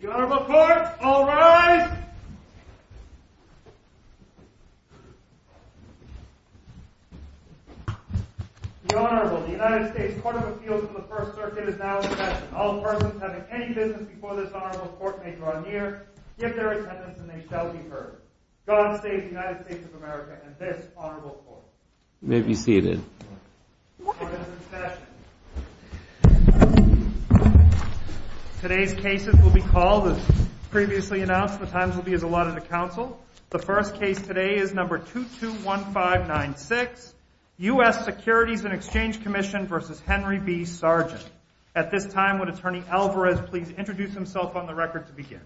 The Honorable Court, all rise! The Honorable, the United States Court of Appeals of the First Circuit is now in session. All persons having any business before this Honorable Court may draw near, give their attendance, and they shall be heard. God save the United States of America and this Honorable Court. May be seated. Court is in session. Today's cases will be called as previously announced. The times will be as allotted to counsel. The first case today is number 221596, U.S. Securities and Exchange Commission v. Henry B. Sargent. At this time, would Attorney Alvarez please introduce himself on the record to begin?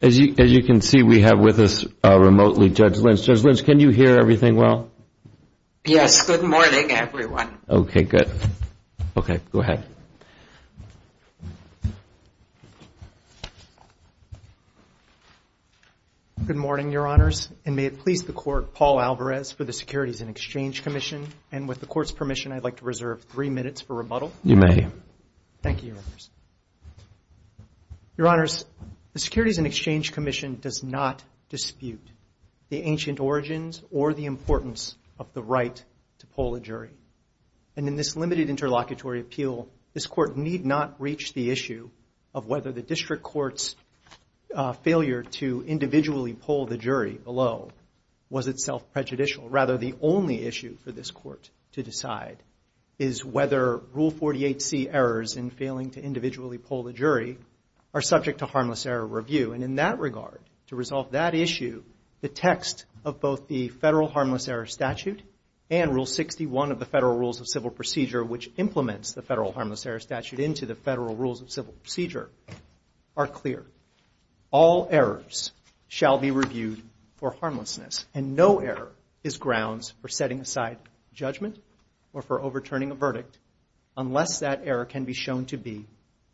As you can see, we have with us remotely Judge Lynch. Judge Lynch, can you hear everything well? Yes, good morning, everyone. Okay, good. Okay, go ahead. Good morning, Your Honors, and may it please the Court, Paul Alvarez for the Securities and Exchange Commission, and with the Court's permission, I'd like to reserve three minutes for rebuttal. You may. Thank you, Your Honors. Your Honors, the Securities and Exchange Commission does not dispute the ancient origins or the importance of the right to poll a jury, and in this limited interlocutory appeal, this Court need not reach the issue of whether the District Court's failure to individually poll the jury below was itself prejudicial. Rather, the only issue for this Court to decide is whether Rule 48C errors in failing to individually poll the jury are subject to harmless error review, and in that regard, to resolve that issue, the text of both the Federal Harmless Error Statute and Rule 61 of the Federal Rules of Civil Procedure, which implements the Federal Harmless Error Statute into the Federal Rules of Civil Procedure, are clear. All errors shall be reviewed for harmlessness, and no error is grounds for setting aside judgment or for overturning a verdict unless that error can be shown to be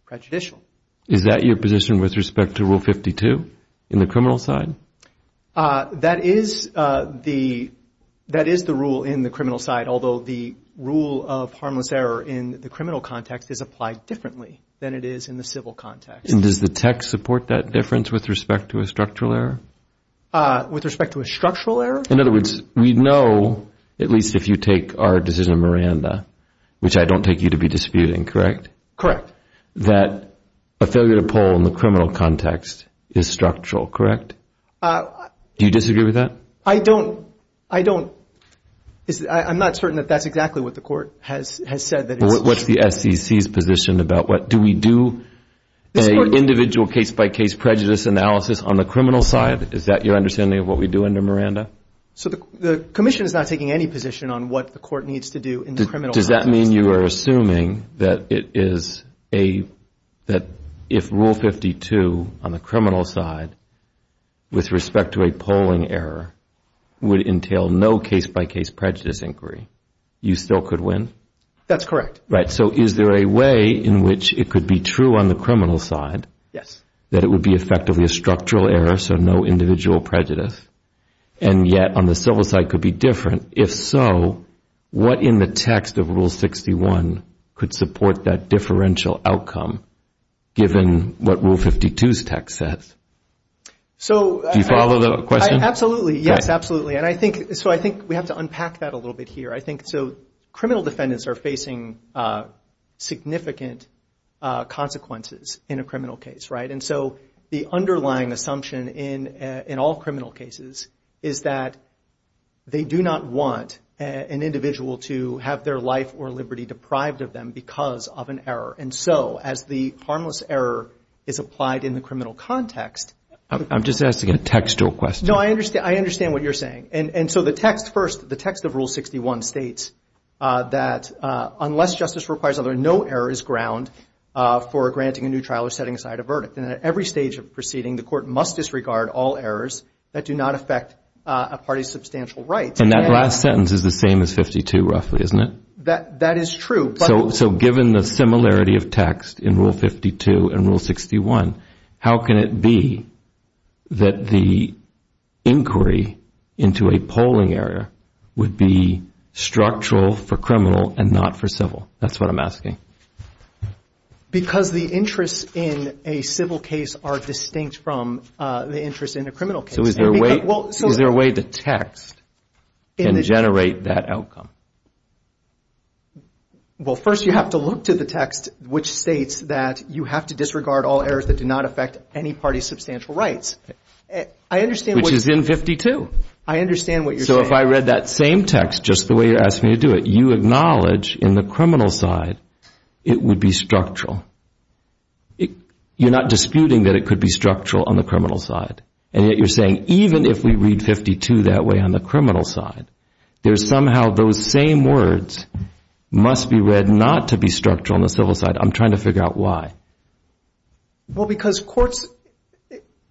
prejudicial. Is that your position with respect to Rule 52 in the criminal side? That is the rule in the criminal side, although the rule of harmless error in the criminal context is applied differently than it is in the civil context. And does the text support that difference with respect to a structural error? With respect to a structural error? In other words, we know, at least if you take our decision of Miranda, which I don't take you to be disputing, correct? Correct. That a failure to poll in the criminal context is structural, correct? Do you disagree with that? I don't. I don't. I'm not certain that that's exactly what the Court has said. What's the SEC's position about what? Do we do an individual case-by-case prejudice analysis on the criminal side? Is that your understanding of what we do under Miranda? So the Commission is not taking any position on what the Court needs to do in the criminal context. Does that mean you are assuming that if Rule 52 on the criminal side, with respect to a polling error, would entail no case-by-case prejudice inquiry, you still could win? That's correct. Right. So is there a way in which it could be true on the criminal side that it would be effectively a structural error, so no individual prejudice, and yet on the civil side could be different? If so, what in the text of Rule 61 could support that differential outcome, given what Rule 52's text says? Do you follow the question? Absolutely. Yes, absolutely. So I think we have to unpack that a little bit here. So criminal defendants are facing significant consequences in a criminal case, right? And so the underlying assumption in all criminal cases is that they do not want an individual to have their life or liberty deprived of them because of an error. And so as the harmless error is applied in the criminal context. I'm just asking a textual question. No, I understand what you're saying. And so the text first, the text of Rule 61 states that unless justice requires other, no error is ground for granting a new trial or setting aside a verdict. And at every stage of proceeding, the court must disregard all errors that do not affect a party's substantial rights. And that last sentence is the same as 52 roughly, isn't it? That is true. So given the similarity of text in Rule 52 and Rule 61, how can it be that the inquiry into a polling area would be structural for criminal and not for civil? That's what I'm asking. Because the interests in a civil case are distinct from the interest in a criminal case. So is there a way the text can generate that outcome? Well, first you have to look to the text which states that you have to disregard all errors that do not affect any party's substantial rights. I understand what you're saying. I understand what you're saying. So if I read that same text just the way you asked me to do it, you acknowledge in the criminal side it would be structural. You're not disputing that it could be structural on the criminal side. And yet you're saying even if we read 52 that way on the criminal side, there's somehow those same words must be read not to be structural on the civil side. I'm trying to figure out why. Well, because courts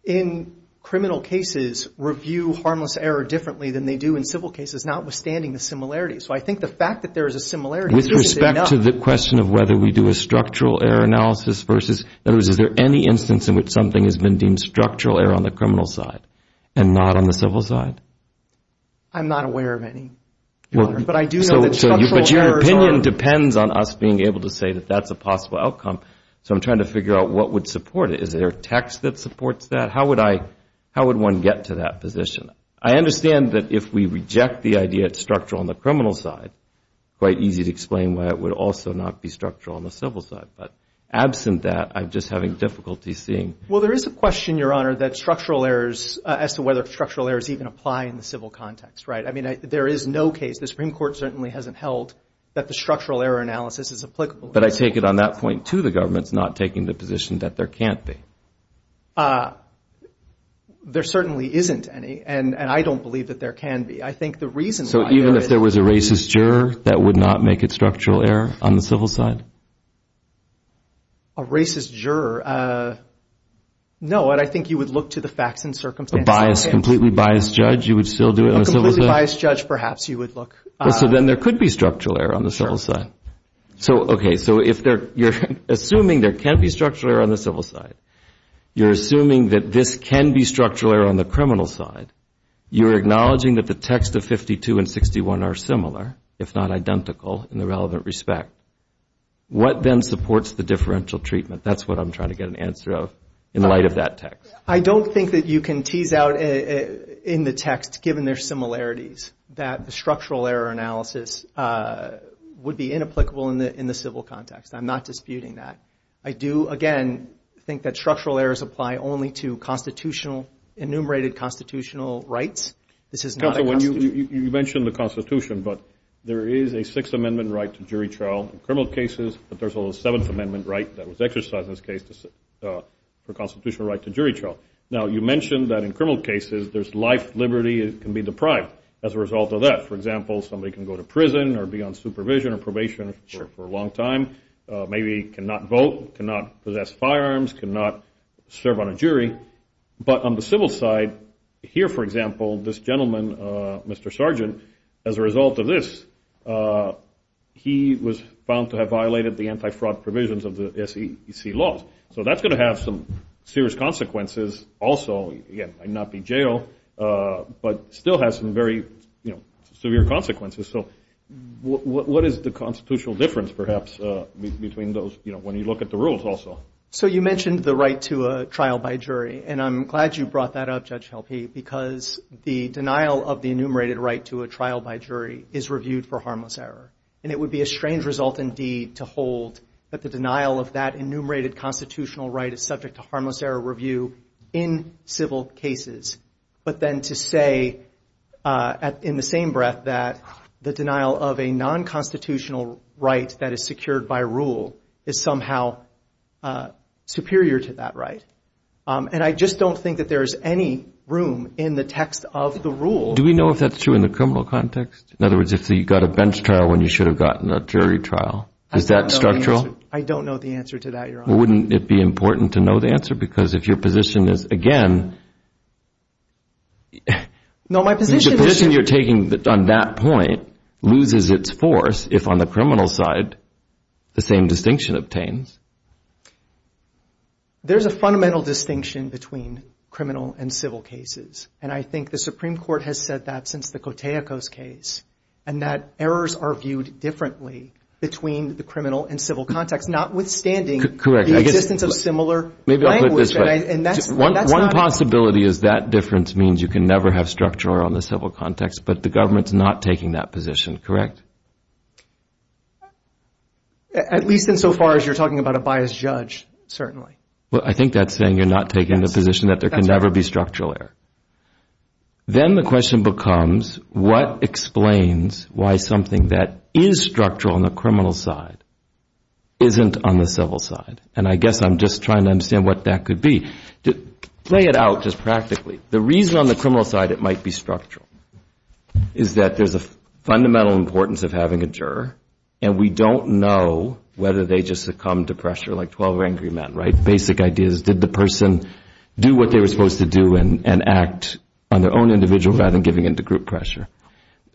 in criminal cases review harmless error differently than they do in civil cases, notwithstanding the similarities. So I think the fact that there is a similarity isn't enough. With respect to the question of whether we do a structural error analysis versus, in other words, is there any instance in which something has been deemed structural error on the criminal side and not on the civil side? I'm not aware of any. But I do know that structural errors are. It depends on us being able to say that that's a possible outcome. So I'm trying to figure out what would support it. Is there a text that supports that? How would I, how would one get to that position? I understand that if we reject the idea it's structural on the criminal side, quite easy to explain why it would also not be structural on the civil side. But absent that, I'm just having difficulty seeing. Well, there is a question, Your Honor, that structural errors, as to whether structural errors even apply in the civil context. Right? I mean, there is no case. The Supreme Court certainly hasn't held that the structural error analysis is applicable. But I take it on that point, too, the government's not taking the position that there can't be. There certainly isn't any. And I don't believe that there can be. I think the reason why there is. So even if there was a racist juror, that would not make it structural error on the civil side? A racist juror, no. And I think you would look to the facts and circumstances. A biased, completely biased judge, you would still do it on the civil side? A completely biased judge, perhaps, you would look. So then there could be structural error on the civil side. So, okay, so you're assuming there can be structural error on the civil side. You're assuming that this can be structural error on the criminal side. You're acknowledging that the text of 52 and 61 are similar, if not identical, in the relevant respect. What then supports the differential treatment? That's what I'm trying to get an answer of in light of that text. I don't think that you can tease out in the text, given their similarities, that the structural error analysis would be inapplicable in the civil context. I'm not disputing that. I do, again, think that structural errors apply only to constitutional, enumerated constitutional rights. You mentioned the Constitution, but there is a Sixth Amendment right to jury trial in criminal cases, but there's also a Seventh Amendment right that was exercised in this case for constitutional right to jury trial. Now, you mentioned that in criminal cases there's life, liberty. It can be deprived as a result of that. For example, somebody can go to prison or be on supervision or probation for a long time, maybe cannot vote, cannot possess firearms, cannot serve on a jury. But on the civil side, here, for example, this gentleman, Mr. Sergeant, as a result of this, he was found to have violated the anti-fraud provisions of the SEC laws. So that's going to have some serious consequences also. He might not be jailed, but still has some very severe consequences. So what is the constitutional difference, perhaps, between those when you look at the rules also? So you mentioned the right to a trial by jury, and I'm glad you brought that up, Judge Helpe, because the denial of the enumerated right to a trial by jury is reviewed for harmless error. And it would be a strange result, indeed, to hold that the denial of that enumerated constitutional right is subject to harmless error review in civil cases, but then to say in the same breath that the denial of a non-constitutional right that is secured by rule is somehow superior to that right. And I just don't think that there is any room in the text of the rule. Do we know if that's true in the criminal context? In other words, if you got a bench trial when you should have gotten a jury trial? Is that structural? I don't know the answer to that, Your Honor. Well, wouldn't it be important to know the answer? Because if your position is, again – No, my position is – The position you're taking on that point loses its force if, on the criminal side, the same distinction obtains. There's a fundamental distinction between criminal and civil cases, and I think the Supreme Court has said that since the Koteikos case, and that errors are viewed differently between the criminal and civil context, notwithstanding the existence of similar language. Maybe I'll put it this way. And that's not – One possibility is that difference means you can never have structure on the civil context, but the government's not taking that position, correct? At least insofar as you're talking about a biased judge, certainly. Well, I think that's saying you're not taking the position that there can never be structural error. Then the question becomes, what explains why something that is structural on the criminal side isn't on the civil side? And I guess I'm just trying to understand what that could be. To play it out just practically, the reason on the criminal side it might be structural is that there's a fundamental importance of having a juror, and we don't know whether they just succumb to pressure, like 12 angry men, right? Basic idea is, did the person do what they were supposed to do and act on their own individual rather than giving in to group pressure?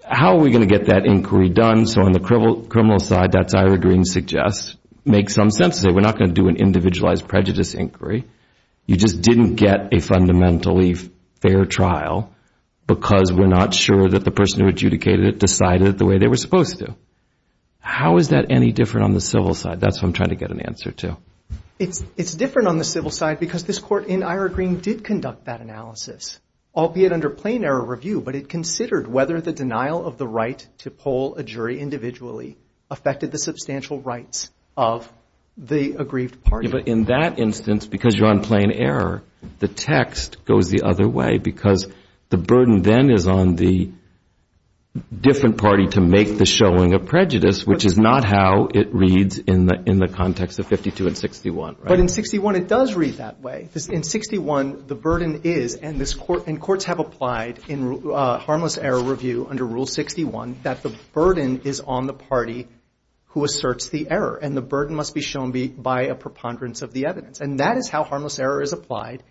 How are we going to get that inquiry done? So on the criminal side, that's Ira Greene suggests, makes some sense to say, we're not going to do an individualized prejudice inquiry. You just didn't get a fundamentally fair trial because we're not sure that the person who adjudicated it decided the way they were supposed to. How is that any different on the civil side? That's what I'm trying to get an answer to. It's different on the civil side because this court in Ira Greene did conduct that analysis, albeit under plain error review, but it considered whether the denial of the right to poll a jury individually affected the substantial rights of the aggrieved party. But in that instance, because you're on plain error, the text goes the other way because the burden then is on the different party to make the showing of prejudice, which is not how it reads in the context of 52 and 61, right? But in 61, it does read that way. In 61, the burden is, and courts have applied in harmless error review under Rule 61, that the burden is on the party who asserts the error, and the burden must be shown by a preponderance of the evidence. And that is how harmless error is applied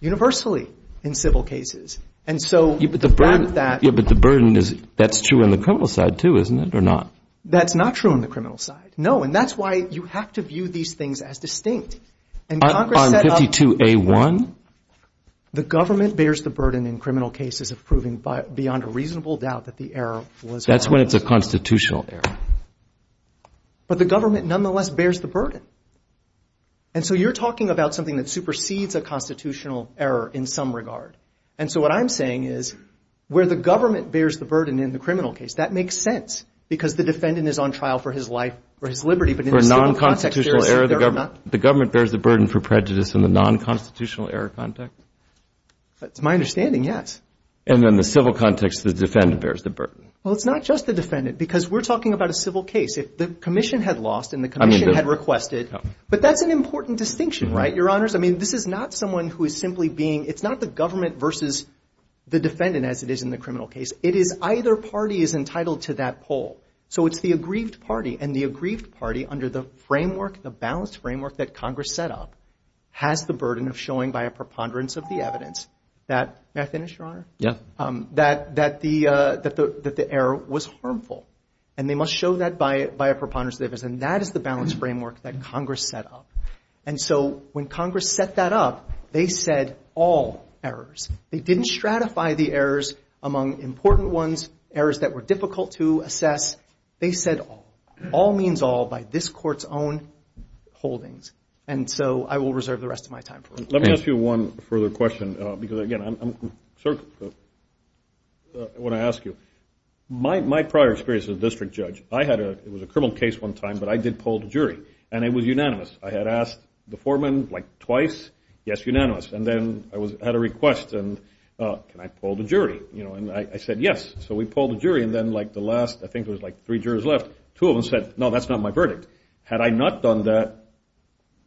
universally in civil cases. But the burden is, that's true on the criminal side too, isn't it, or not? That's not true on the criminal side. No, and that's why you have to view these things as distinct. On 52A1? The government bears the burden in criminal cases of proving beyond a reasonable doubt that the error was harmless. That's when it's a constitutional error. But the government nonetheless bears the burden. And so you're talking about something that supersedes a constitutional error in some regard. And so what I'm saying is where the government bears the burden in the criminal case, that makes sense because the defendant is on trial for his life, for his liberty. For a non-constitutional error, the government bears the burden for prejudice in the non-constitutional error context? That's my understanding, yes. And then the civil context, the defendant bears the burden. Well, it's not just the defendant because we're talking about a civil case. If the commission had lost and the commission had requested. But that's an important distinction, right, Your Honors? I mean, this is not someone who is simply being, it's not the government versus the defendant as it is in the criminal case. It is either party is entitled to that poll. So it's the aggrieved party. And the aggrieved party under the framework, the balanced framework that Congress set up, has the burden of showing by a preponderance of the evidence that, may I finish, Your Honor? Yeah. That the error was harmful. And they must show that by a preponderance of the evidence. And that is the balanced framework that Congress set up. And so when Congress set that up, they said all errors. They didn't stratify the errors among important ones, errors that were difficult to assess. They said all. All means all by this Court's own holdings. And so I will reserve the rest of my time for it. Let me ask you one further question because, again, I want to ask you. My prior experience as a district judge, I had a, it was a criminal case one time, but I did poll the jury. And it was unanimous. I had asked the foreman like twice, yes, unanimous. And then I had a request, and can I poll the jury? And I said yes. So we polled the jury. And then like the last, I think there was like three jurors left, two of them said, no, that's not my verdict. Had I not done that,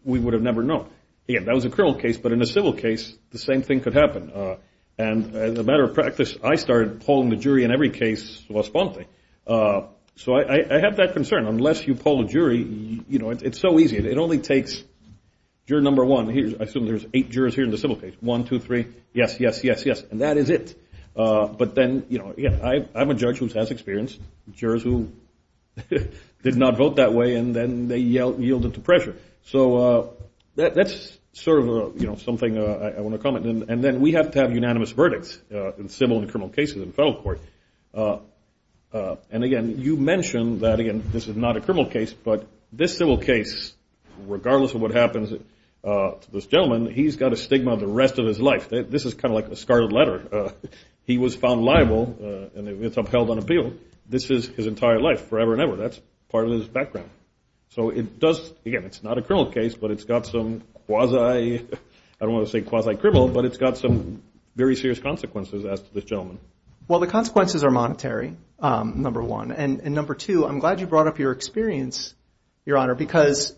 we would have never known. Again, that was a criminal case. But in a civil case, the same thing could happen. And as a matter of practice, I started polling the jury in every case responding. So I have that concern. Unless you poll a jury, you know, it's so easy. It only takes juror number one. I assume there's eight jurors here in the civil case. One, two, three, yes, yes, yes, yes. And that is it. But then, you know, I'm a judge who has experience, jurors who did not vote that way, and then they yielded to pressure. So that's sort of, you know, something I want to comment. And then we have to have unanimous verdicts in civil and criminal cases in federal court. And, again, you mentioned that, again, this is not a criminal case, but this civil case, regardless of what happens to this gentleman, he's got a stigma the rest of his life. This is kind of like a scarlet letter. He was found liable, and it's upheld on appeal. This is his entire life, forever and ever. That's part of his background. So it does, again, it's not a criminal case, but it's got some quasi, I don't want to say quasi-criminal, but it's got some very serious consequences as to this gentleman. Well, the consequences are monetary, number one. And, number two, I'm glad you brought up your experience, Your Honor, because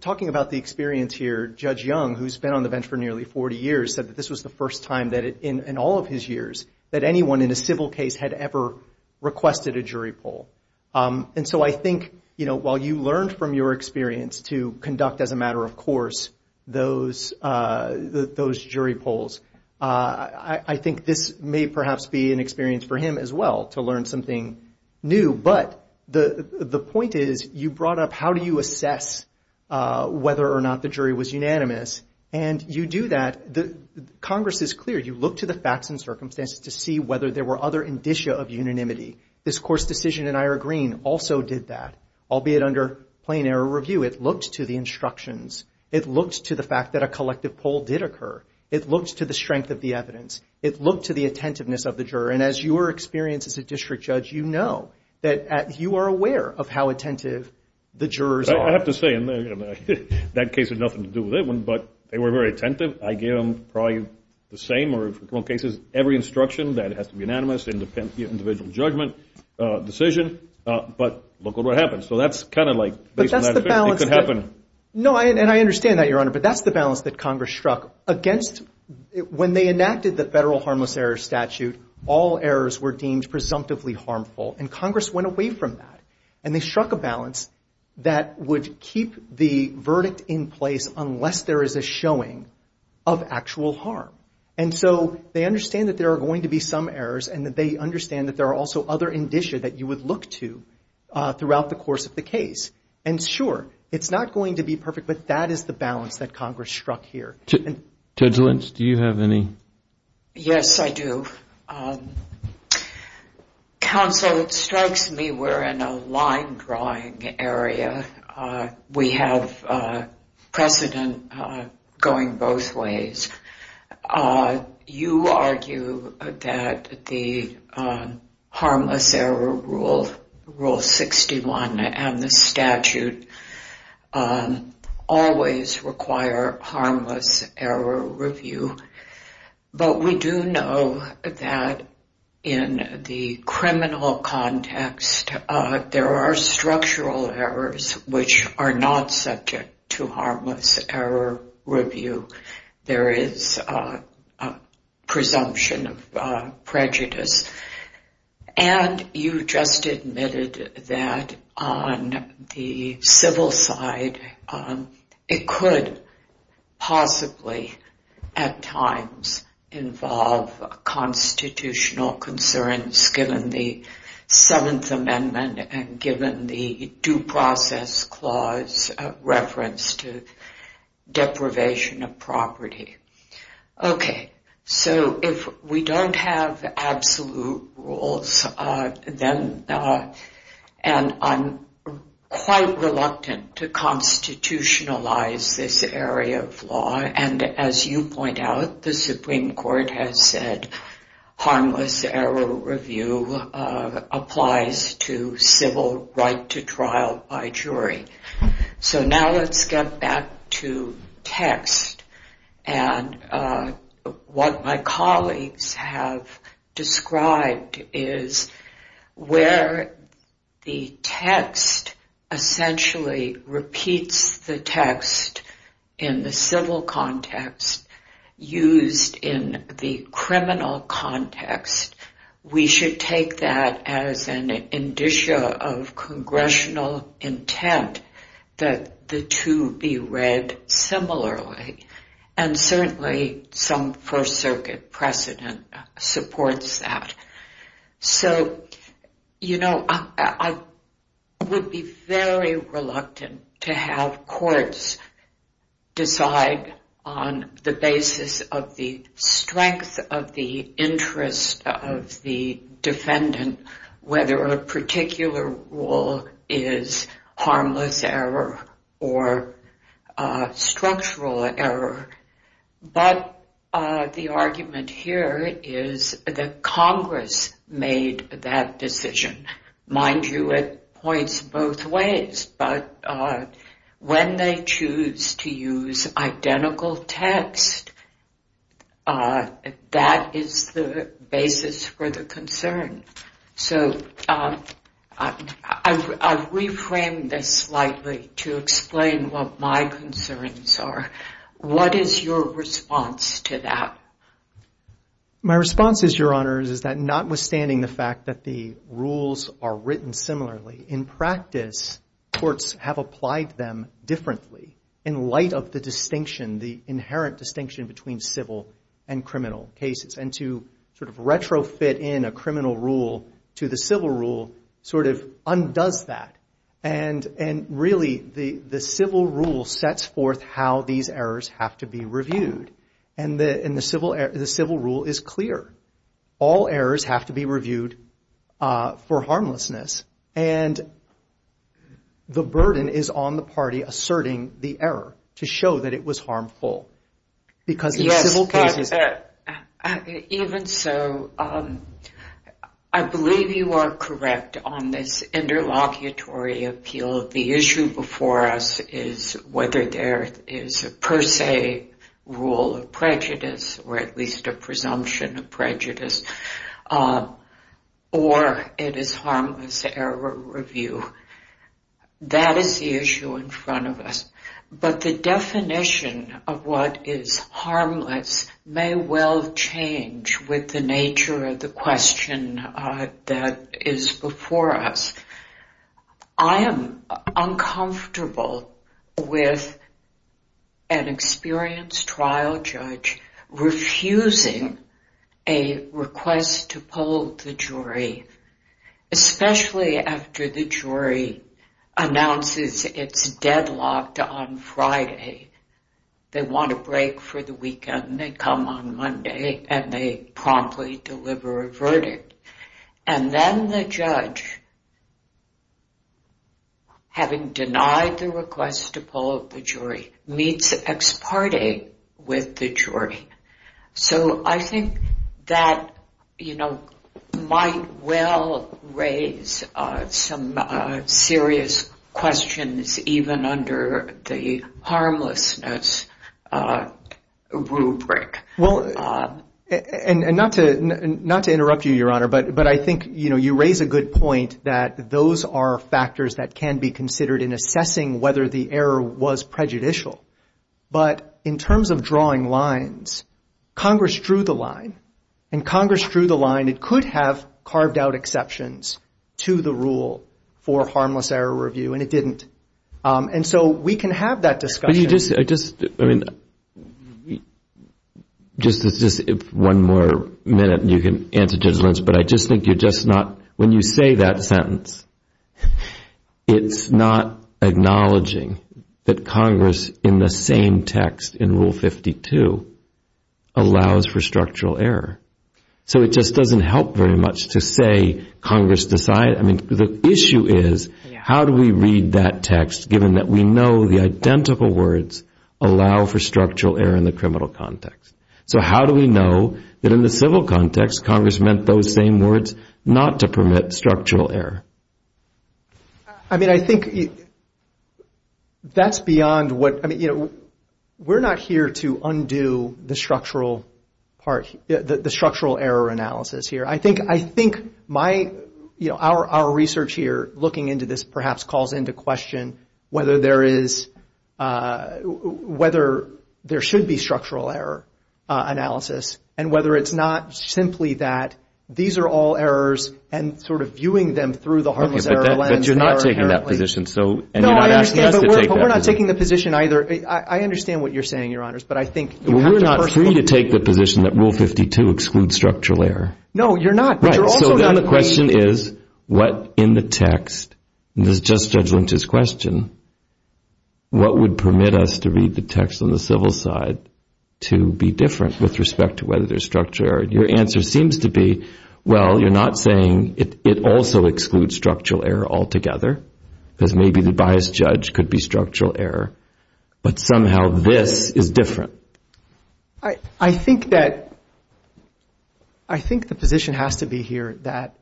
talking about the experience here, Judge Young, who's been on the bench for nearly 40 years, said that this was the first time in all of his years that anyone in a civil case had ever requested a jury poll. And so I think, you know, while you learned from your experience to conduct, as a matter of course, those jury polls, I think this may perhaps be an experience for him as well, to learn something new. But the point is, you brought up how do you assess whether or not the jury was unanimous, and you do that. Congress is clear. You look to the facts and circumstances to see whether there were other indicia of unanimity. This Course decision in Ira Green also did that, albeit under plain error review. It looked to the instructions. It looked to the fact that a collective poll did occur. It looked to the strength of the evidence. It looked to the attentiveness of the juror. And as your experience as a district judge, you know that you are aware of how attentive the jurors are. I have to say, that case had nothing to do with it, but they were very attentive. I gave them probably the same, or in a couple of cases, every instruction that it has to be unanimous, individual judgment decision, but look at what happens. So that's kind of like, based on that, it could happen. No, and I understand that, Your Honor, but that's the balance that Congress struck against. When they enacted the Federal Harmless Error Statute, all errors were deemed presumptively harmful, and Congress went away from that. And they struck a balance that would keep the verdict in place unless there is a showing of actual harm. And so they understand that there are going to be some errors, and they understand that there are also other indicia that you would look to throughout the course of the case. And sure, it's not going to be perfect, but that is the balance that Congress struck here. Judge Lynch, do you have any? Yes, I do. Counsel, it strikes me we're in a line-drawing area. We have precedent going both ways. You argue that the Harmless Error Rule, Rule 61, and the statute always require harmless error review. But we do know that in the criminal context, there are structural errors which are not subject to harmless error review. There is a presumption of prejudice. And you just admitted that on the civil side, it could possibly at times involve constitutional concerns given the Seventh Amendment and given the Due Process Clause reference to deprivation of property. Okay, so if we don't have absolute rules, then I'm quite reluctant to constitutionalize this area of law. And as you point out, the Supreme Court has said harmless error review applies to civil right to trial by jury. So now let's get back to text. And what my colleagues have described is where the text essentially repeats the text in the civil context used in the criminal context. We should take that as an indicia of congressional intent that the two be read similarly. And certainly some First Circuit precedent supports that. So, you know, I would be very reluctant to have courts decide on the basis of the strength of the interest of the defendant whether a particular rule is harmless error or structural error. But the argument here is that Congress made that decision. Mind you, it points both ways. But when they choose to use identical text, that is the basis for the concern. So I've reframed this slightly to explain what my concerns are. What is your response to that? My response is, Your Honors, is that notwithstanding the fact that the rules are written similarly, in practice courts have applied them differently in light of the distinction, the inherent distinction between civil and criminal cases. And to sort of retrofit in a criminal rule to the civil rule sort of undoes that. And really the civil rule sets forth how these errors have to be reviewed. And the civil rule is clear. All errors have to be reviewed for harmlessness. And the burden is on the party asserting the error to show that it was harmful. Yes, but even so, I believe you are correct on this interlocutory appeal. The issue before us is whether there is a per se rule of prejudice or at least a presumption of prejudice, or it is harmless error review. That is the issue in front of us. But the definition of what is harmless may well change with the nature of the question that is before us. I am uncomfortable with an experienced trial judge refusing a request to poll the jury, especially after the jury announces it is deadlocked on Friday. They want a break for the weekend. They come on Monday and they promptly deliver a verdict. And then the judge, having denied the request to poll the jury, meets ex parte with the jury. So I think that, you know, might well raise some serious questions even under the harmlessness rubric. Well, and not to interrupt you, Your Honor, but I think, you know, you raise a good point that those are factors that can be considered in assessing whether the error was prejudicial. But in terms of drawing lines, Congress drew the line. And Congress drew the line. It could have carved out exceptions to the rule for harmless error review, and it didn't. And so we can have that discussion. Just one more minute and you can answer Judge Lentz, but I just think you're just not, when you say that sentence, it's not acknowledging that Congress, in the same text in Rule 52, allows for structural error. So it just doesn't help very much to say Congress decided. I mean, the issue is how do we read that text, given that we know the identical words allow for structural error in the criminal context. So how do we know that in the civil context, Congress meant those same words not to permit structural error? I mean, I think that's beyond what, I mean, you know, we're not here to undo the structural part, the structural error analysis here. I think my, you know, our research here, looking into this, perhaps calls into question whether there is, whether there should be structural error analysis, and whether it's not simply that these are all errors and sort of viewing them through the harmless error lens. But you're not taking that position, so, and you're not asking us to take that position. No, I understand, but we're not taking the position either. I understand what you're saying, Your Honors, but I think you have to personally. I need to take the position that Rule 52 excludes structural error. No, you're not. Right, so then the question is what in the text, and this is just Judge Lynch's question, what would permit us to read the text on the civil side to be different with respect to whether there's structural error? And your answer seems to be, well, you're not saying it also excludes structural error altogether, because maybe the biased judge could be structural error, but somehow this is different. I think that, I think the position has to be here that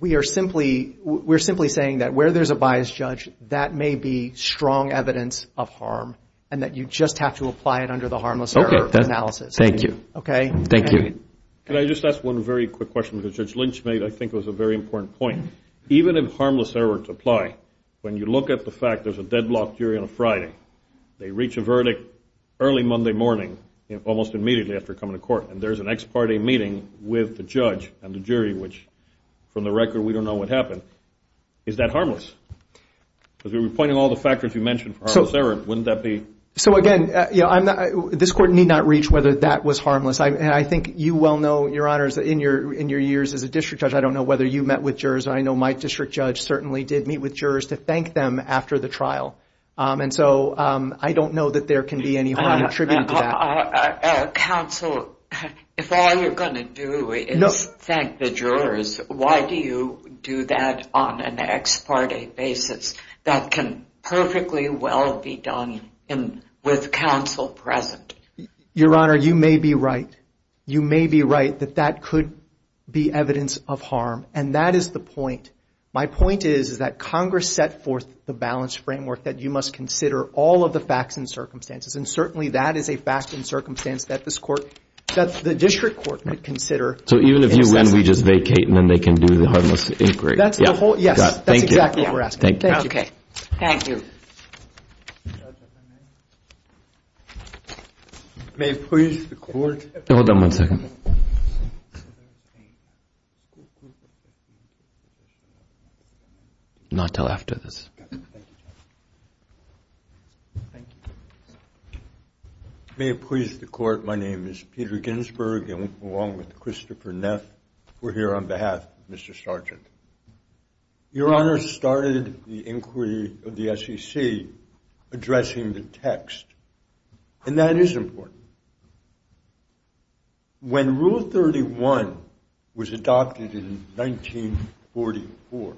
we are simply, we're simply saying that where there's a biased judge, that may be strong evidence of harm, and that you just have to apply it under the harmless error analysis. Okay, thank you. Okay? Thank you. Can I just ask one very quick question, because Judge Lynch made, I think, was a very important point. Even if harmless errors apply, when you look at the fact there's a deadlock jury on a Friday, they reach a verdict early Monday morning, almost immediately after coming to court, and there's an ex parte meeting with the judge and the jury, which, from the record, we don't know what happened. Is that harmless? Because we were pointing all the factors you mentioned for harmless error. Wouldn't that be? So, again, this Court need not reach whether that was harmless. I think you well know, Your Honors, in your years as a district judge, I don't know whether you met with jurors, and I know my district judge certainly did meet with jurors to thank them after the trial. And so I don't know that there can be any harm attributed to that. Counsel, if all you're going to do is thank the jurors, why do you do that on an ex parte basis? That can perfectly well be done with counsel present. Your Honor, you may be right. You may be right that that could be evidence of harm, and that is the point. My point is, is that Congress set forth the balanced framework that you must consider all of the facts and circumstances, and certainly that is a fact and circumstance that this Court, that the district court would consider. So even if you win, we just vacate and then they can do the harmless inquiry. That's the whole, yes. Thank you. That's exactly what we're asking. Thank you. Okay. Thank you. May it please the Court. Hold on one second. Not until after this. May it please the Court. My name is Peter Ginsberg, along with Christopher Neff. We're here on behalf of Mr. Sargent. Your Honor started the inquiry of the SEC addressing the text, and that is important. When Rule 31 was adopted in 1944,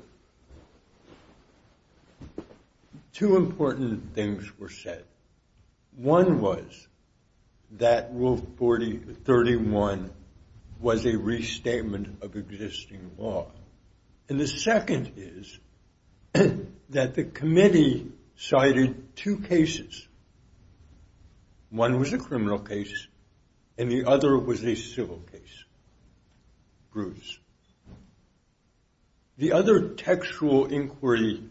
two important things were said. One was that Rule 31 was a restatement of existing law. And the second is that the committee cited two cases. One was a criminal case, and the other was a civil case. The other textual inquiry,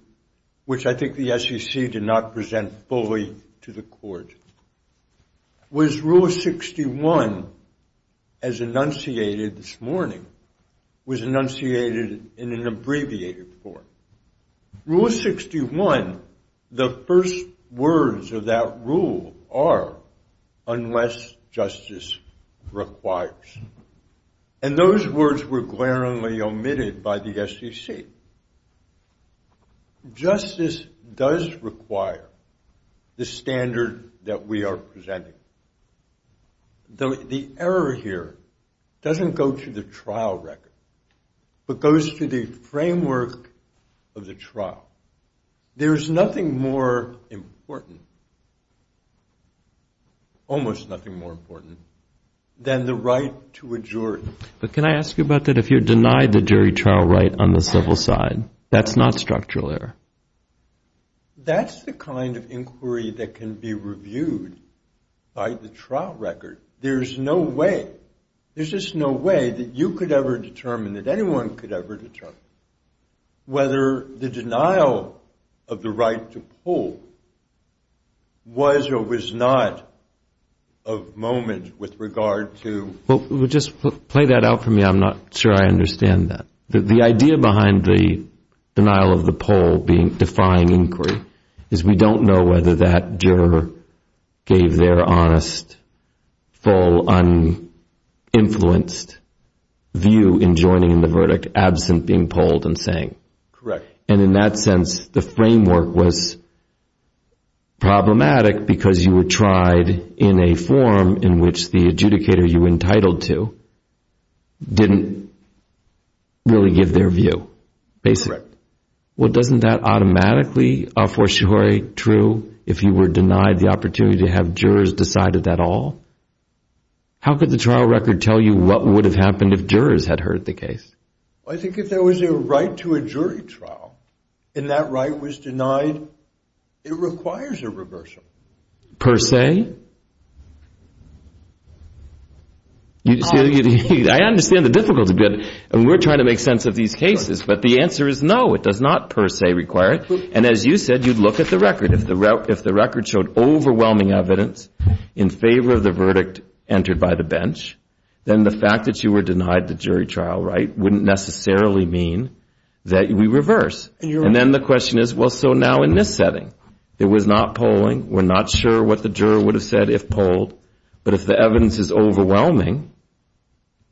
which I think the SEC did not present fully to the Court, was Rule 61, as enunciated this morning, was enunciated in an abbreviated form. Rule 61, the first words of that rule are, unless justice requires. And those words were glaringly omitted by the SEC. Justice does require the standard that we are presenting. The error here doesn't go to the trial record, but goes to the framework of the trial. There is nothing more important, almost nothing more important, than the right to a jury. But can I ask you about that? If you're denied the jury trial right on the civil side, that's not structural error. That's the kind of inquiry that can be reviewed by the trial record. There's no way. There's just no way that you could ever determine, that anyone could ever determine, whether the denial of the right to poll was or was not of moment with regard to. Well, just play that out for me. I'm not sure I understand that. The idea behind the denial of the poll being defying inquiry is we don't know whether that juror gave their honest, full, uninfluenced view in joining in the verdict, absent being polled and saying. Correct. And in that sense, the framework was problematic because you were tried in a form in which the adjudicator you were entitled to didn't really give their view, basically. Correct. Well, doesn't that automatically, a fortiori, true if you were denied the opportunity to have jurors decided that all? How could the trial record tell you what would have happened if jurors had heard the case? I think if there was a right to a jury trial and that right was denied, it requires a reversal. Per se? I understand the difficulty. We're trying to make sense of these cases. But the answer is no, it does not per se require it. And as you said, you'd look at the record. If the record showed overwhelming evidence in favor of the verdict entered by the bench, then the fact that you were denied the jury trial right wouldn't necessarily mean that we reverse. And then the question is, well, so now in this setting, there was not polling, we're not sure what the juror would have said if polled. But if the evidence is overwhelming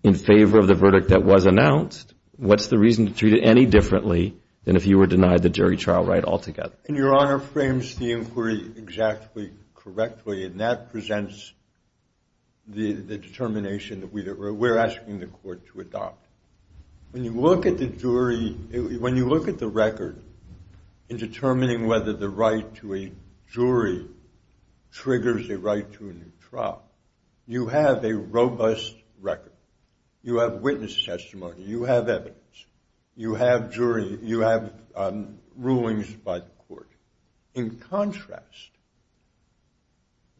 in favor of the verdict that was announced, what's the reason to treat it any differently than if you were denied the jury trial right altogether? And Your Honor frames the inquiry exactly correctly, and that presents the determination that we're asking the court to adopt. When you look at the record in determining whether the right to a jury triggers a right to a new trial, you have a robust record. You have witness testimony. You have evidence. You have rulings by the court. In contrast,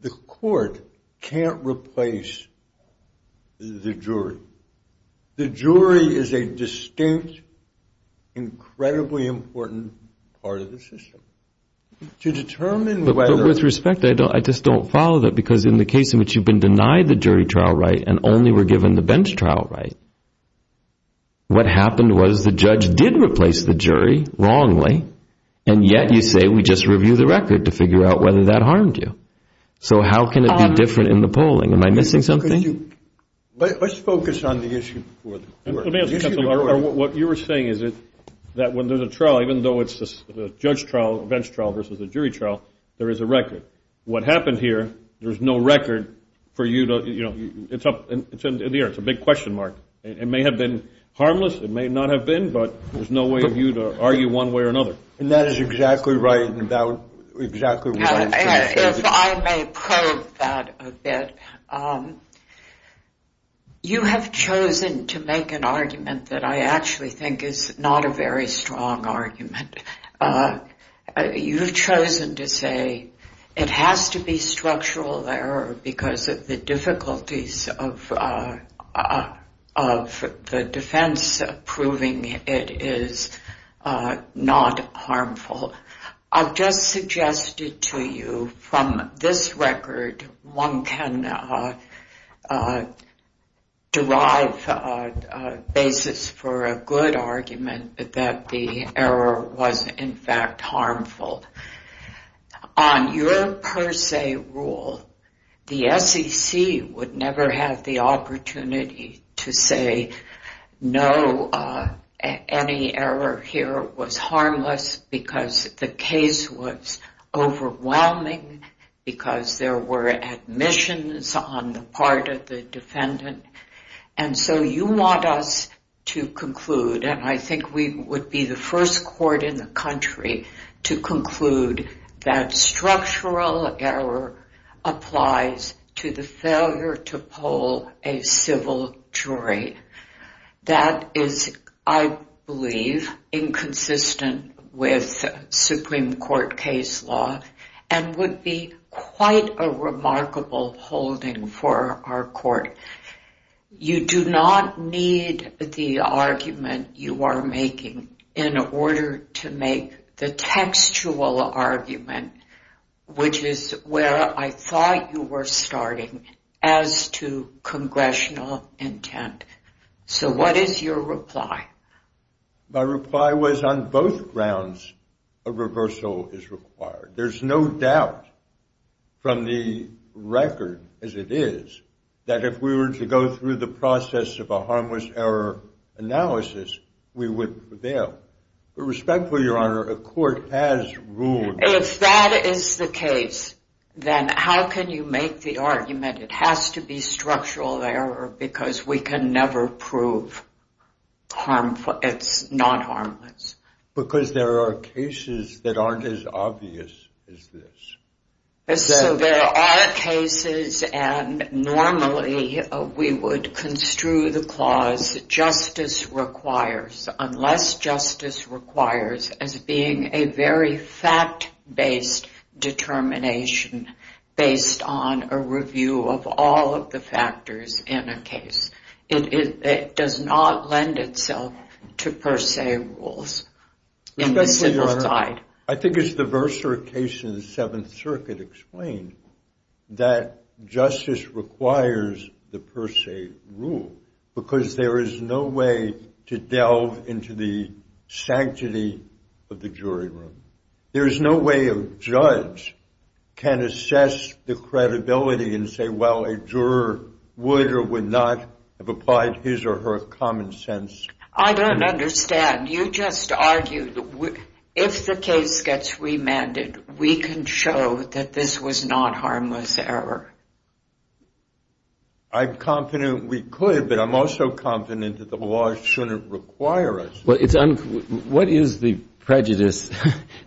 the court can't replace the jury. The jury is a distinct, incredibly important part of the system. To determine whether — But with respect, I just don't follow that, because in the case in which you've been denied the jury trial right and only were given the bench trial right, what happened was the judge did replace the jury wrongly, and yet you say we just review the record to figure out whether that harmed you. So how can it be different in the polling? Am I missing something? Let's focus on the issue before the court. What you were saying is that when there's a trial, even though it's a judge trial, a bench trial versus a jury trial, there is a record. What happened here, there's no record for you to — it's up in the air. It's a big question mark. It may have been harmless. It may not have been, but there's no way for you to argue one way or another. If I may probe that a bit. You have chosen to make an argument that I actually think is not a very strong argument. You've chosen to say it has to be structural error because of the difficulties of the defense proving it is not harmful. I've just suggested to you from this record one can derive a basis for a good argument that the error was in fact harmful. On your per se rule, the SEC would never have the opportunity to say, no, any error here was harmless because the case was overwhelming, because there were admissions on the part of the defendant. And so you want us to conclude, and I think we would be the first court in the country to conclude, that structural error applies to the failure to poll a civil jury. That is, I believe, inconsistent with Supreme Court case law and would be quite a remarkable holding for our court. You do not need the argument you are making in order to make the textual argument, which is where I thought you were starting, as to congressional intent. So what is your reply? My reply was on both grounds a reversal is required. There's no doubt from the record, as it is, that if we were to go through the process of a harmless error analysis, we would prevail. But respectfully, Your Honor, a court has ruled... If that is the case, then how can you make the argument it has to be structural error because we can never prove it's not harmless? Because there are cases that aren't as obvious as this. So there are cases, and normally we would construe the clause justice requires, unless justice requires as being a very fact-based determination based on a review of all of the factors in a case. It does not lend itself to per se rules. Respectfully, Your Honor, I think it's the Verser case in the Seventh Circuit explained that justice requires the per se rule because there is no way to delve into the sanctity of the jury room. There is no way a judge can assess the credibility and say, well, a juror would or would not have applied his or her common sense. I don't understand. You just argued if the case gets remanded, we can show that this was not harmless error. I'm confident we could, but I'm also confident that the law shouldn't require us. Well, what is the prejudice?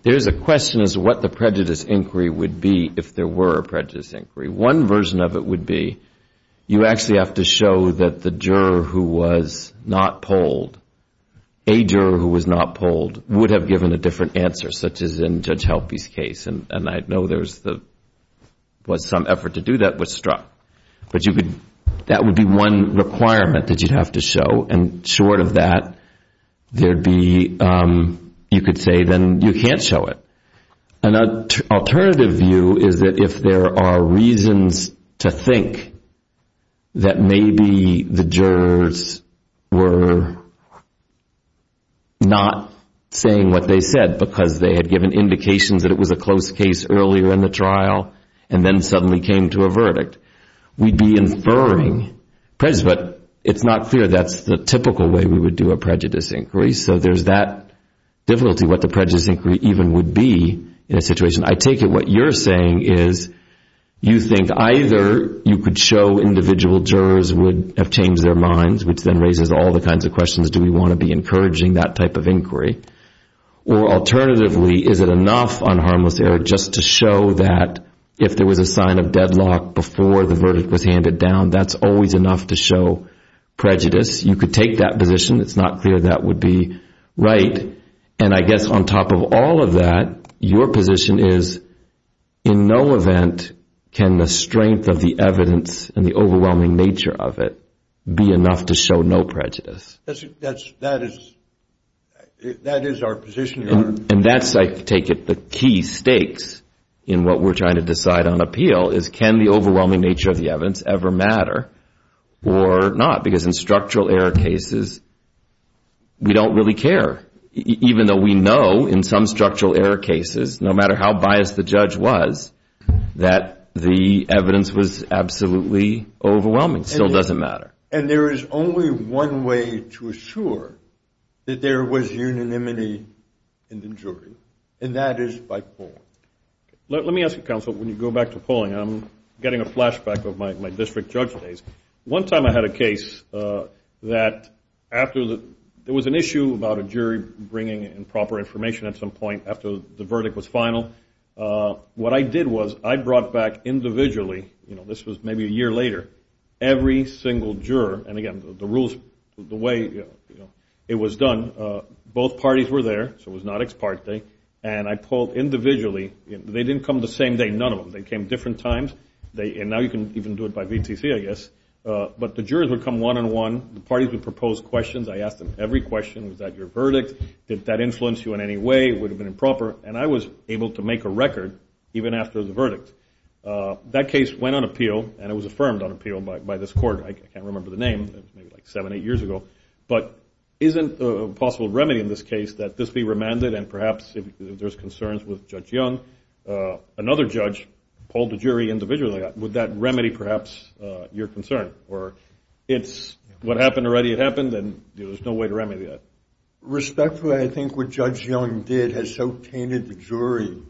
There is a question as to what the prejudice inquiry would be if there were a prejudice inquiry. One version of it would be you actually have to show that the juror who was not polled, a juror who was not polled would have given a different answer, such as in Judge Helpe's case, and I know there was some effort to do that but struck. That would be one requirement that you'd have to show, and short of that, you could say then you can't show it. An alternative view is that if there are reasons to think that maybe the jurors were not saying what they said because they had given indications that it was a close case earlier in the trial and then suddenly came to a verdict, we'd be inferring prejudice, but it's not clear that's the typical way we would do a prejudice inquiry, so there's that difficulty what the prejudice inquiry even would be in a situation. I take it what you're saying is you think either you could show individual jurors would have changed their minds, which then raises all the kinds of questions, do we want to be encouraging that type of inquiry, or alternatively is it enough on harmless error just to show that if there was a sign of deadlock before the verdict was handed down, that's always enough to show prejudice. You could take that position. It's not clear that would be right, and I guess on top of all of that, your position is in no event can the strength of the evidence and the overwhelming nature of it be enough to show no prejudice. That is our position. And that's, I take it, the key stakes in what we're trying to decide on appeal, is can the overwhelming nature of the evidence ever matter or not, because in structural error cases we don't really care, even though we know in some structural error cases, no matter how biased the judge was, that the evidence was absolutely overwhelming. It still doesn't matter. And there is only one way to assure that there was unanimity in the jury, and that is by polling. Let me ask you, counsel, when you go back to polling, I'm getting a flashback of my district judge days. One time I had a case that after there was an issue about a jury bringing in proper information at some point after the verdict was final. What I did was I brought back individually, this was maybe a year later, every single juror, and again, the rules, the way it was done, both parties were there, so it was not ex parte, and I polled individually. They didn't come the same day, none of them. They came different times, and now you can even do it by VTC, I guess. But the jurors would come one-on-one. The parties would propose questions. I asked them every question. Was that your verdict? Did that influence you in any way? Would it have been improper? And I was able to make a record even after the verdict. That case went on appeal, and it was affirmed on appeal by this court. I can't remember the name. It was maybe like seven, eight years ago. But isn't a possible remedy in this case that this be remanded, and perhaps if there's concerns with Judge Young, another judge polled the jury individually, would that remedy perhaps your concern? Or it's what happened already had happened, and there's no way to remedy that. Respectfully, I think what Judge Young did has so tainted the jury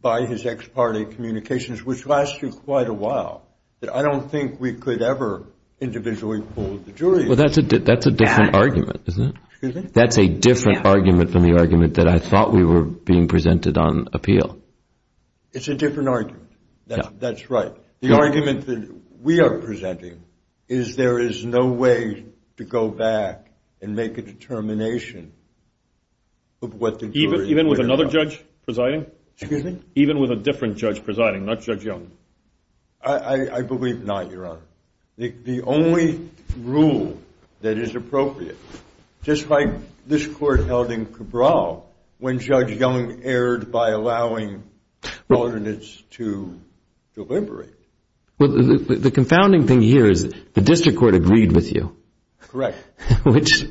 by his ex parte communications, which lasted quite a while, that I don't think we could ever individually poll the jury. Well, that's a different argument, isn't it? That's a different argument from the argument that I thought we were being presented on appeal. It's a different argument. That's right. The argument that we are presenting is there is no way to go back and make a determination of what the jury. Even with another judge presiding? Excuse me? Even with a different judge presiding, not Judge Young? I believe not, Your Honor. The only rule that is appropriate, just like this court held in Cabral when Judge Young erred by allowing alternates to deliberate. Well, the confounding thing here is the district court agreed with you. Correct. Which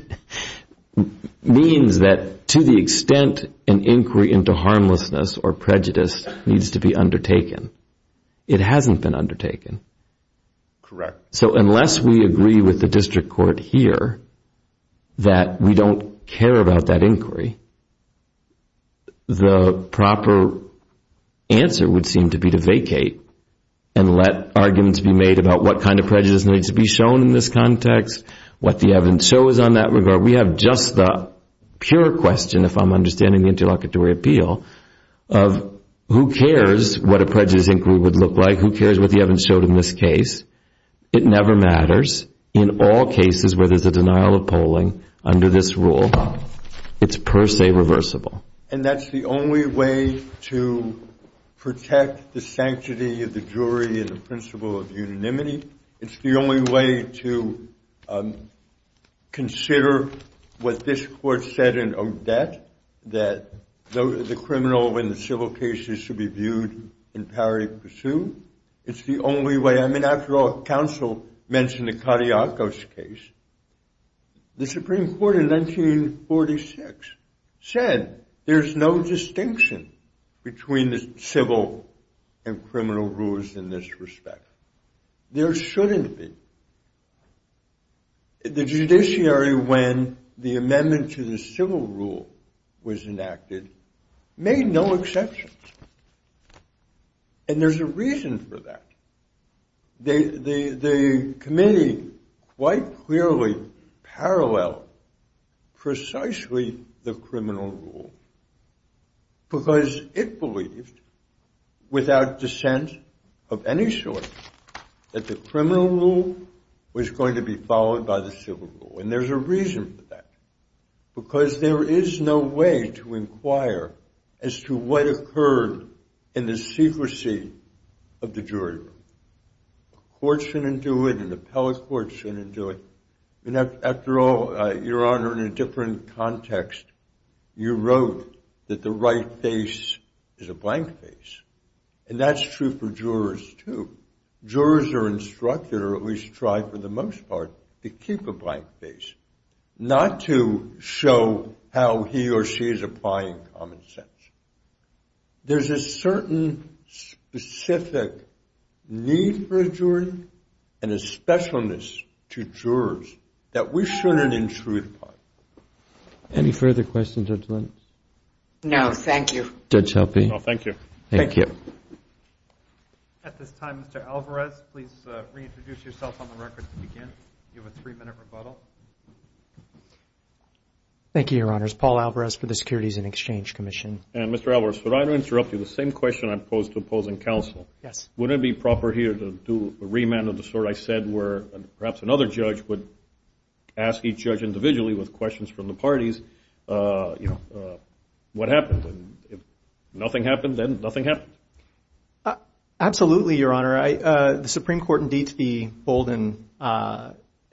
means that to the extent an inquiry into harmlessness or prejudice needs to be undertaken, it hasn't been undertaken. Correct. So unless we agree with the district court here that we don't care about that inquiry, the proper answer would seem to be to vacate and let arguments be made about what kind of prejudice needs to be shown in this context, what the evidence shows on that regard. We have just the pure question, if I'm understanding the interlocutory appeal, of who cares what a prejudice inquiry would look like, who cares what the evidence showed in this case. It never matters. In all cases where there's a denial of polling under this rule, it's per se reversible. And that's the only way to protect the sanctity of the jury in the principle of unanimity? It's the only way to consider what this court said in Odette, that the criminal and the civil cases should be viewed in parity pursuit? It's the only way. I mean, after all, counsel mentioned the Cariacos case. The Supreme Court in 1946 said there's no distinction between the civil and criminal rules in this respect. There shouldn't be. The judiciary, when the amendment to the civil rule was enacted, made no exceptions. And there's a reason for that. The committee quite clearly paralleled precisely the criminal rule because it believed, without dissent of any sort, that the criminal rule was going to be followed by the civil rule. And there's a reason for that. Because there is no way to inquire as to what occurred in the secrecy of the jury room. The court shouldn't do it, and the appellate court shouldn't do it. After all, Your Honor, in a different context, you wrote that the right face is a blank face. And that's true for jurors, too. Jurors are instructed, or at least try for the most part, to keep a blank face, not to show how he or she is applying common sense. There's a certain specific need for a jury and a specialness to jurors that we shouldn't intrude upon. Any further questions, Judge Lentz? No, thank you. Judge Helpe? No, thank you. Thank you. At this time, Mr. Alvarez, please reintroduce yourself on the record to begin. You have a three-minute rebuttal. Thank you, Your Honors. Paul Alvarez for the Securities and Exchange Commission. Mr. Alvarez, would I interrupt you? The same question I posed to opposing counsel. Yes. Wouldn't it be proper here to do a remand of the sort I said where perhaps another judge would ask each judge individually, with questions from the parties, what happened? If nothing happened, then nothing happened. Absolutely, Your Honor. The Supreme Court, indeed the Bolden,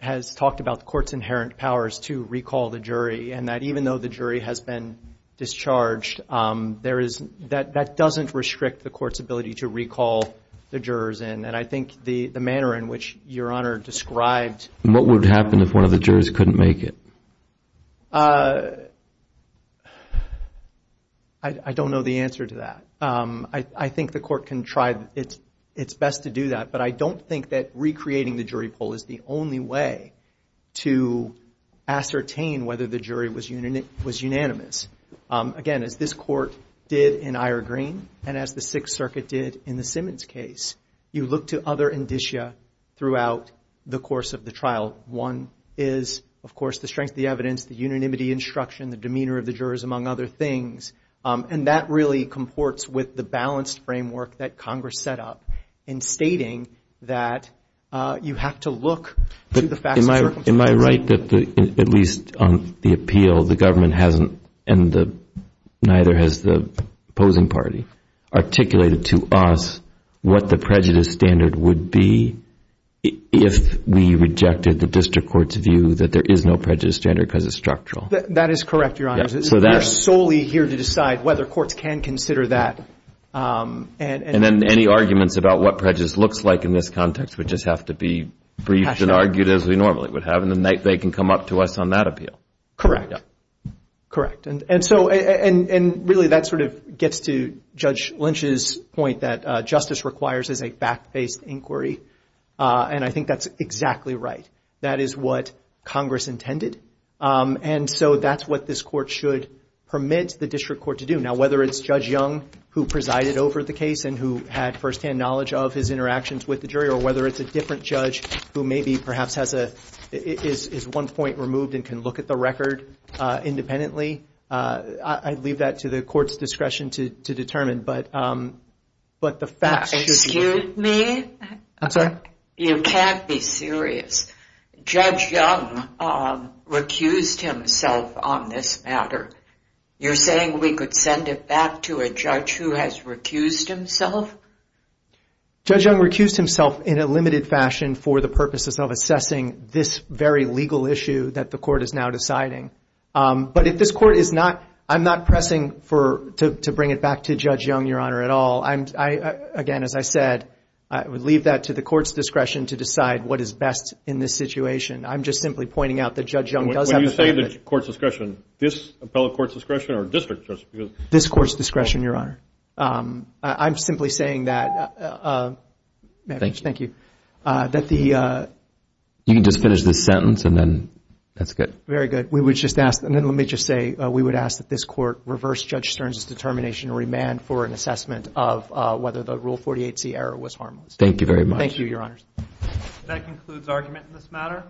has talked about the court's inherent powers to recall the jury, and that even though the jury has been discharged, that doesn't restrict the court's ability to recall the jurors. And I think the manner in which Your Honor described— What would happen if one of the jurors couldn't make it? I don't know the answer to that. I think the court can try its best to do that, but I don't think that recreating the jury poll is the only way to ascertain whether the jury was unanimous. Again, as this court did in Ira Green and as the Sixth Circuit did in the Simmons case, you look to other indicia throughout the course of the trial. One is, of course, the strength of the evidence, the unanimity instruction, the demeanor of the jurors, among other things, and that really comports with the balanced framework that Congress set up in stating that you have to look to the facts. Am I right that, at least on the appeal, the government hasn't, and neither has the opposing party, articulated to us what the prejudice standard would be if we rejected the district court's view that there is no prejudice standard because it's structural? That is correct, Your Honors. We are solely here to decide whether courts can consider that. And then any arguments about what prejudice looks like in this context would just have to be briefed and argued as we normally would have, and then they can come up to us on that appeal. Correct. And really that sort of gets to Judge Lynch's point that justice requires is a fact-based inquiry, and I think that's exactly right. That is what Congress intended, and so that's what this court should permit the district court to do. Now, whether it's Judge Young who presided over the case and who had firsthand knowledge of his interactions with the jury, or whether it's a different judge who maybe perhaps is one point removed and can look at the record independently, I'd leave that to the court's discretion to determine. Excuse me? I'm sorry? You can't be serious. Judge Young recused himself on this matter. You're saying we could send it back to a judge who has recused himself? Judge Young recused himself in a limited fashion for the purposes of assessing this very legal issue that the court is now deciding. But if this court is not, I'm not pressing to bring it back to Judge Young, Your Honor, at all. Again, as I said, I would leave that to the court's discretion to decide what is best in this situation. I'm just simply pointing out that Judge Young does have the benefit. When you say the court's discretion, this appellate court's discretion or district's discretion? This court's discretion, Your Honor. I'm simply saying that, thank you. You can just finish this sentence and then that's good. Very good. We would just ask, and then let me just say, we would ask that this court reverse Judge Stern's determination to remand for an assessment of whether the Rule 48C error was harmless. Thank you very much. Thank you, Your Honors. That concludes argument in this matter.